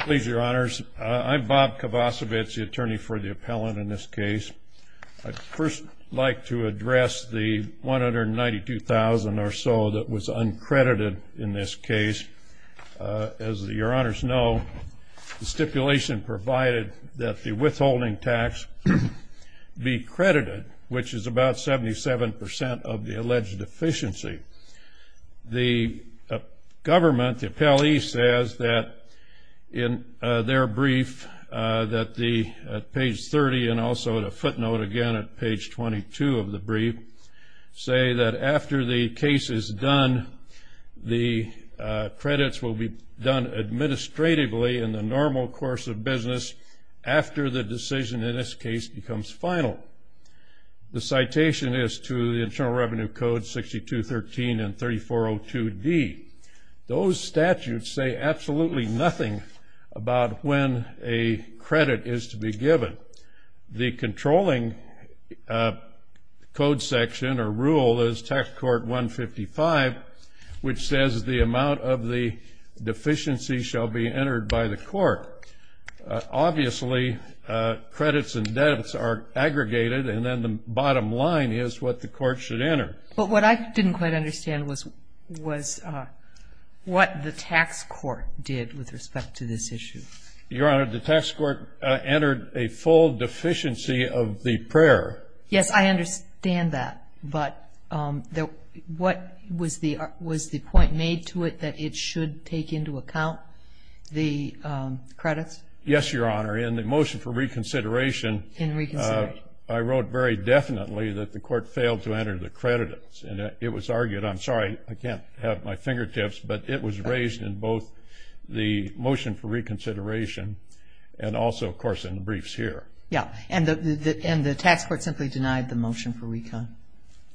Please, Your Honors, I'm Bob Kovacevic, the attorney for the appellant in this case. I'd first like to address the $192,000 or so that was uncredited in this case. As Your Honors know, the stipulation provided that the withholding tax be credited, which is about 77 percent of the alleged deficiency. The government, the appellee, says that in their brief at page 30, and also at a footnote again at page 22 of the brief, say that after the case is done, the credits will be done administratively in the normal course of business after the decision in this case becomes final. The citation is to the Internal Revenue Code 6213 and 3402D. Those statutes say absolutely nothing about when a credit is to be given. The controlling code section or rule is Tax Court 155, which says the amount of the deficiency shall be entered by the court. Obviously, credits and debits are aggregated, and then the bottom line is what the court should enter. But what I didn't quite understand was what the tax court did with respect to this issue. Your Honor, the tax court entered a full deficiency of the prayer. Yes, I understand that, but what was the point made to it that it should take into account? The credits? Yes, Your Honor. In the motion for reconsideration, I wrote very definitely that the court failed to enter the credits, and it was argued. I'm sorry, I can't have my fingertips, but it was raised in both the motion for reconsideration and also, of course, in the briefs here. Yes, and the tax court simply denied the motion for reconsideration.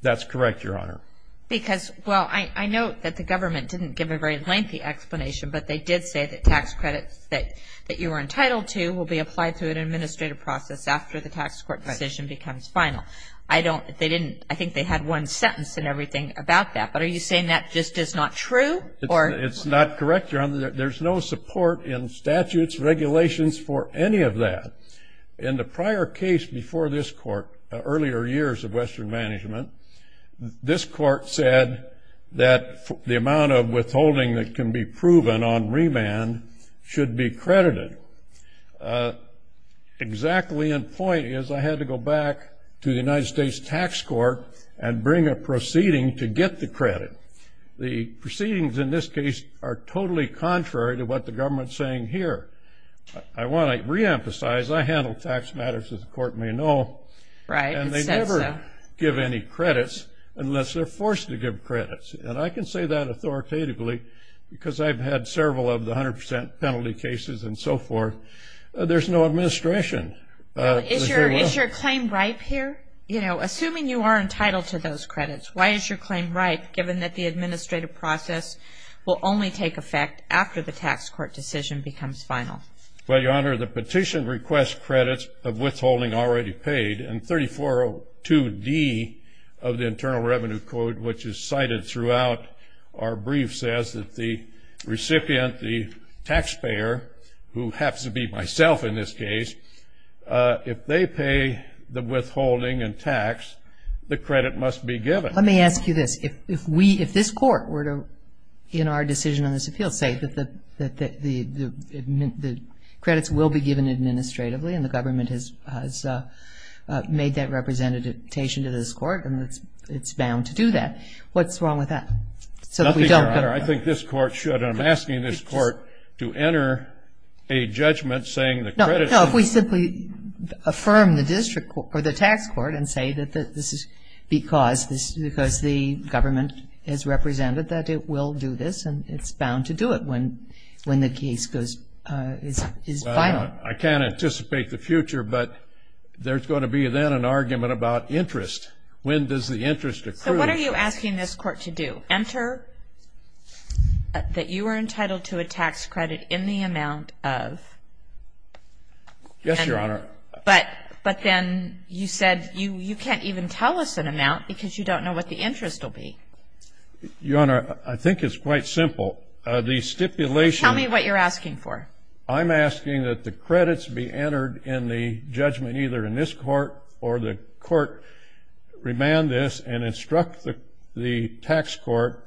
That's correct, Your Honor. Because, well, I note that the government didn't give a very lengthy explanation, but they did say that tax credits that you were entitled to will be applied through an administrative process after the tax court decision becomes final. I think they had one sentence and everything about that, but are you saying that just is not true? It's not correct, Your Honor. There's no support in statutes, regulations for any of that. In the prior case before this court, earlier years of Western Management, this court said that the amount of withholding that can be proven on remand should be credited. Exactly in point is I had to go back to the United States Tax Court and bring a proceeding to get the credit. The proceedings in this case are totally contrary to what the government is saying here. I want to reemphasize, I handle tax matters, as the court may know, and they never give any credits unless they're forced to give credits. And I can say that authoritatively because I've had several of the 100 percent penalty cases and so forth. There's no administration. Is your claim ripe here? You know, assuming you are entitled to those credits, why is your claim ripe, given that the administrative process will only take effect after the tax court decision becomes final? Well, Your Honor, the petition requests credits of withholding already paid, and 3402D of the Internal Revenue Code, which is cited throughout our brief, says that the recipient, the taxpayer, who happens to be myself in this case, if they pay the withholding and tax, the credit must be given. Let me ask you this. If we, if this court were to, in our decision on this appeal, say that the credits will be given administratively and the government has made that representation to this court and it's bound to do that, what's wrong with that? Nothing, Your Honor. I think this court should. I'm asking this court to enter a judgment saying the credits should be given. No, if we simply affirm the district, or the tax court, and say that this is because the government has represented that it will do this and it's bound to do it when the case is final. I can't anticipate the future, but there's going to be then an argument about interest. When does the interest accrue? So what are you asking this court to do? To enter that you are entitled to a tax credit in the amount of. Yes, Your Honor. But then you said you can't even tell us an amount because you don't know what the interest will be. Your Honor, I think it's quite simple. The stipulation. Tell me what you're asking for. I'm asking that the credits be entered in the judgment either in this court or the court remand this and instruct the tax court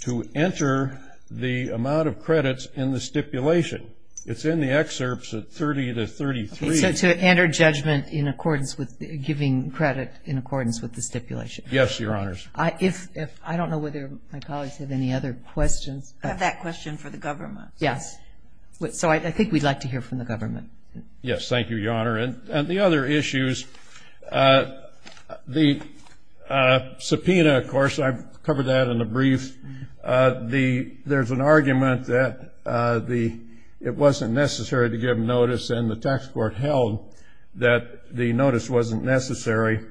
to enter the amount of credits in the stipulation. It's in the excerpts at 30 to 33. So to enter judgment in accordance with giving credit in accordance with the stipulation. Yes, Your Honor. I don't know whether my colleagues have any other questions. I have that question for the government. Yes. So I think we'd like to hear from the government. Yes, thank you, Your Honor. And the other issues, the subpoena, of course, I've covered that in a brief. There's an argument that it wasn't necessary to give notice and the tax court held that the notice wasn't necessary.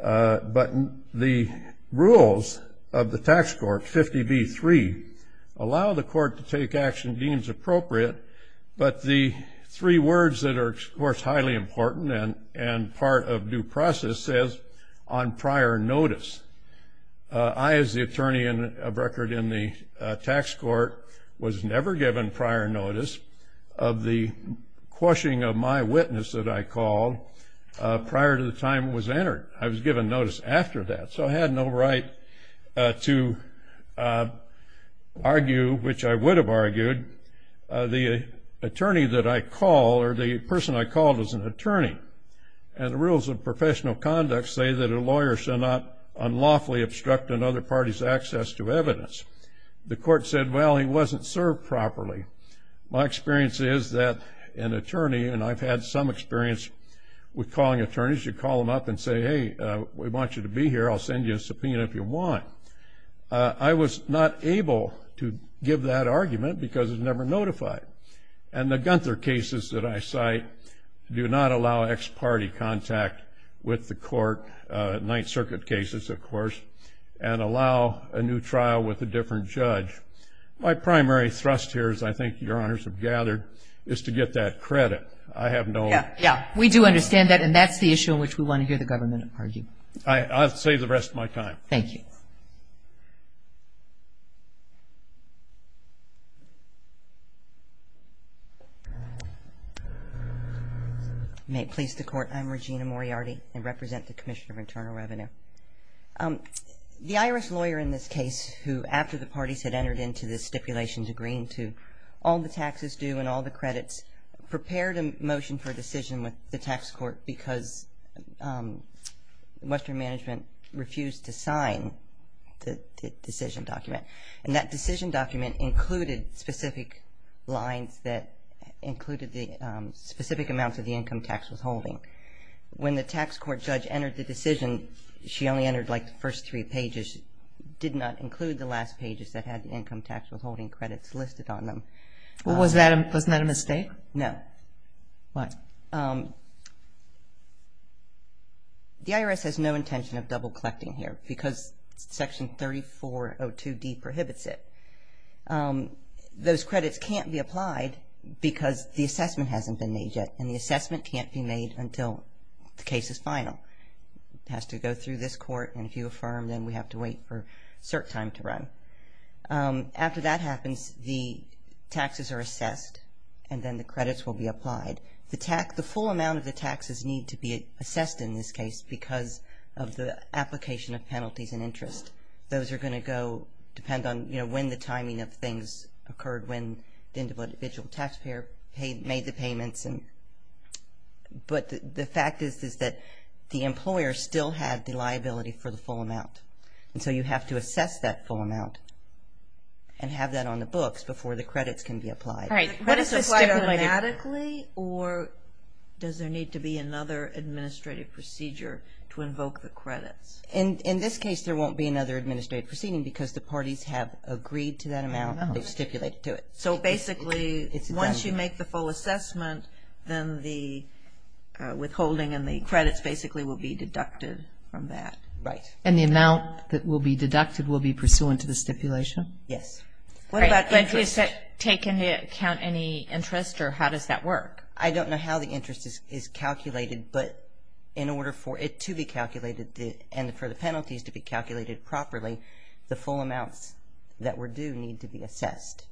But the rules of the tax court, 50B3, allow the court to take action deems appropriate, but the three words that are, of course, highly important and part of due process is on prior notice. I, as the attorney of record in the tax court, was never given prior notice of the quashing of my witness that I called prior to the time it was entered. I was given notice after that. So I had no right to argue, which I would have argued, the attorney that I call or the person I called as an attorney. And the rules of professional conduct say that a lawyer shall not unlawfully obstruct another party's access to evidence. The court said, well, he wasn't served properly. My experience is that an attorney, and I've had some experience with calling attorneys, you call them up and say, hey, we want you to be here, I'll send you a subpoena if you want. I was not able to give that argument because it was never notified. And the Gunther cases that I cite do not allow ex-party contact with the court, Ninth Circuit cases, of course, and allow a new trial with a different judge. My primary thrust here, as I think your honors have gathered, is to get that credit. I have no objection. Yeah, we do understand that, and that's the issue in which we want to hear the government argue. I'll save the rest of my time. Thank you. May it please the Court, I'm Regina Moriarty and represent the Commission of Internal Revenue. The IRS lawyer in this case who, after the parties had entered into the stipulations agreeing to all the taxes due and all the credits, prepared a motion for a decision with the tax court because Western Management refused to sign the decision document. And that decision document included specific lines that included the specific amounts of the income tax withholding. When the tax court judge entered the decision, she only entered like the first three pages, did not include the last pages that had the income tax withholding credits listed on them. Was that a mistake? No. Why? The IRS has no intention of double collecting here because Section 3402D prohibits it. Those credits can't be applied because the assessment hasn't been made yet, and the assessment can't be made until the case is final. It has to go through this court, and if you affirm, then we have to wait for cert time to run. After that happens, the taxes are assessed, and then the credits will be applied. The full amount of the taxes need to be assessed in this case because of the application of penalties and interest. Those are going to go, depend on, you know, when the timing of things occurred, when the individual taxpayer made the payments. But the fact is that the employer still had the liability for the full amount, and so you have to assess that full amount and have that on the books before the credits can be applied. All right. What is applied automatically, or does there need to be another administrative procedure to invoke the credits? In this case, there won't be another administrative proceeding because the parties have agreed to that amount. They've stipulated to it. So basically, once you make the full assessment, then the withholding and the credits basically will be deducted from that. Right. And the amount that will be deducted will be pursuant to the stipulation? Yes. What about interest? Do you take into account any interest, or how does that work? I don't know how the interest is calculated, but in order for it to be calculated and for the penalties to be calculated properly, the full amounts that were due need to be assessed.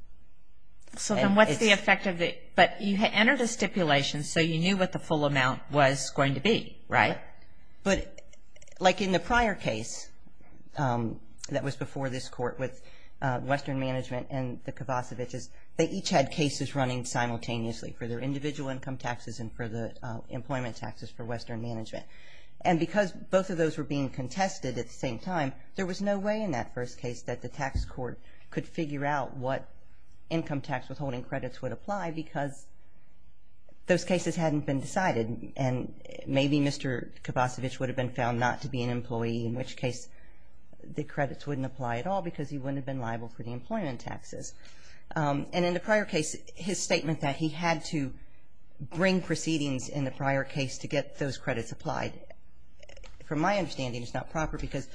So then what's the effect of it? But you entered a stipulation, so you knew what the full amount was going to be, right? Right. But like in the prior case that was before this court with Western Management and the Kovacevic's, they each had cases running simultaneously for their individual income taxes and for the employment taxes for Western Management. And because both of those were being contested at the same time, there was no way in that first case that the tax court could figure out what income tax withholding credits would apply because those cases hadn't been decided. And maybe Mr. Kovacevic would have been found not to be an employee, in which case the credits wouldn't apply at all because he wouldn't have been liable for the employment taxes. And in the prior case, his statement that he had to bring proceedings in the prior case to get those credits applied, from my understanding, is not proper because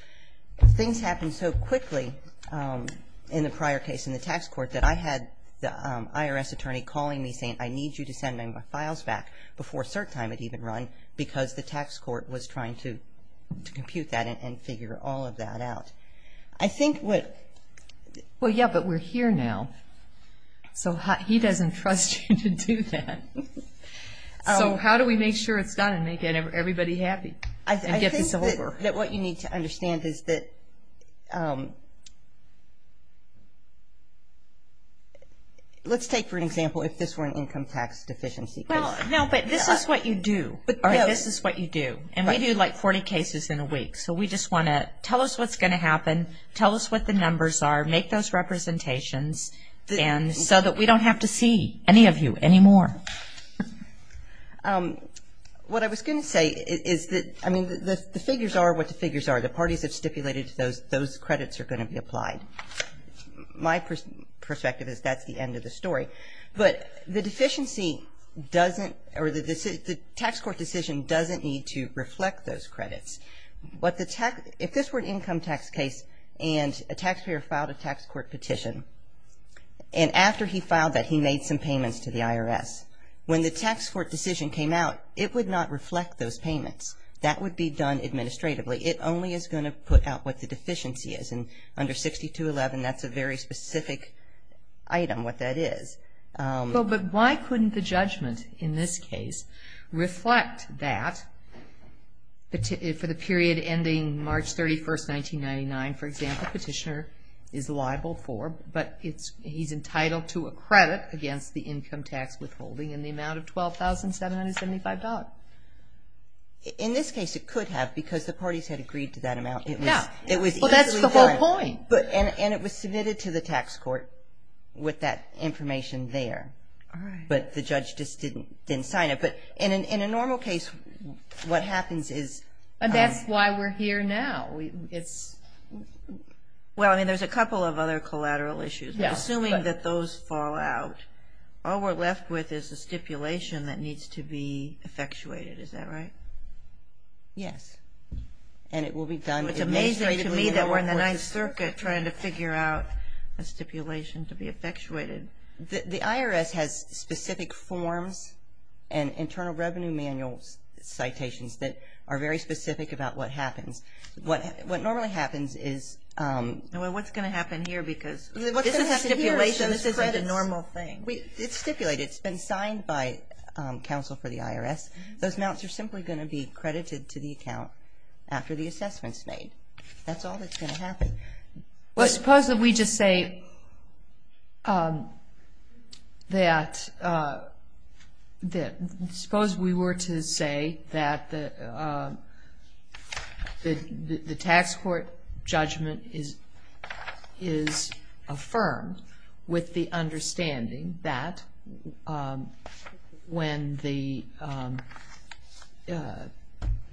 things happen so quickly in the prior case in the tax court that I had the IRS attorney calling me saying, I need you to send my files back before cert time had even run because the tax court was trying to compute that and figure all of that out. I think what... Well, yeah, but we're here now. So he doesn't trust you to do that. So how do we make sure it's done and make everybody happy and get this over? I think that what you need to understand is that... Let's take, for example, if this were an income tax deficiency case. Well, no, but this is what you do. This is what you do. And we do, like, 40 cases in a week. So we just want to tell us what's going to happen, tell us what the numbers are, make those representations so that we don't have to see any of you anymore. What I was going to say is that, I mean, the figures are what the figures are. The parties have stipulated those credits are going to be applied. My perspective is that's the end of the story. But the deficiency doesn't or the tax court decision doesn't need to reflect those credits. If this were an income tax case and a taxpayer filed a tax court petition, and after he filed that he made some payments to the IRS, when the tax court decision came out, it would not reflect those payments. That would be done administratively. It only is going to put out what the deficiency is. And under 6211, that's a very specific item, what that is. But why couldn't the judgment in this case reflect that for the period ending March 31, 1999, for example, petitioner is liable for, but he's entitled to a credit against the income tax withholding in the amount of $12,775. In this case, it could have because the parties had agreed to that amount. Yeah. It was easily done. Well, that's the whole point. And it was submitted to the tax court with that information there. All right. But the judge just didn't sign it. But in a normal case, what happens is. And that's why we're here now. It's. Well, I mean, there's a couple of other collateral issues. Assuming that those fall out, all we're left with is a stipulation that needs to be effectuated. Is that right? Yes. And it will be done. It's amazing to me that we're in the Ninth Circuit trying to figure out a stipulation to be effectuated. The IRS has specific forms and internal revenue manual citations that are very specific about what happens. What normally happens is. Well, what's going to happen here because. This isn't a normal thing. It's stipulated. It's been signed by counsel for the IRS. Those amounts are simply going to be credited to the account after the assessment's made. That's all that's going to happen. Well, suppose that we just say that. Suppose we were to say that the tax court judgment is affirmed with the understanding that when the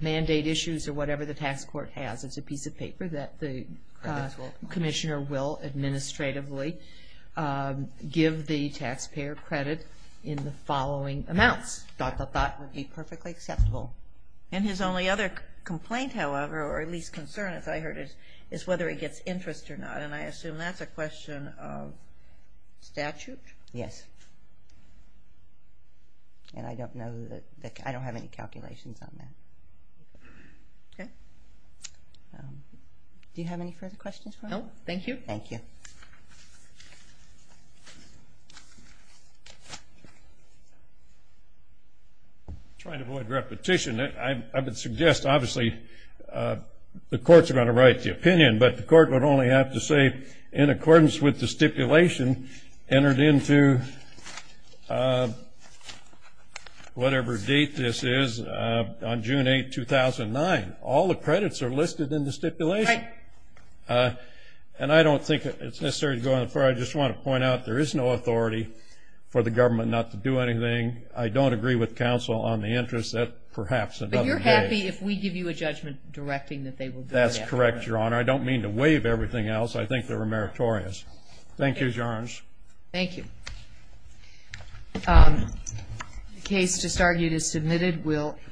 mandate issues or whatever the tax court has as a piece of paper that the commissioner will administratively give the taxpayer credit in the following amounts. Dot, dot, dot would be perfectly acceptable. And his only other complaint, however, or at least concern as I heard it, is whether he gets interest or not. And I assume that's a question of statute? Yes. And I don't know that. I don't have any calculations on that. Okay. Do you have any further questions for me? No, thank you. Thank you. Trying to avoid repetition. I would suggest, obviously, the courts are going to write the opinion, but the court would only have to say in accordance with the stipulation entered into whatever date this is, on June 8, 2009. All the credits are listed in the stipulation. Right. And I don't think it's necessary to go that far. I just want to point out there is no authority for the government not to do anything. I don't agree with counsel on the interest. That perhaps doesn't engage. But you're happy if we give you a judgment directing that they will do it afterwards? That's correct, Your Honor. I don't mean to waive everything else. I think they're meritorious. Thank you, Your Honor. Thank you. The case just argued is submitted.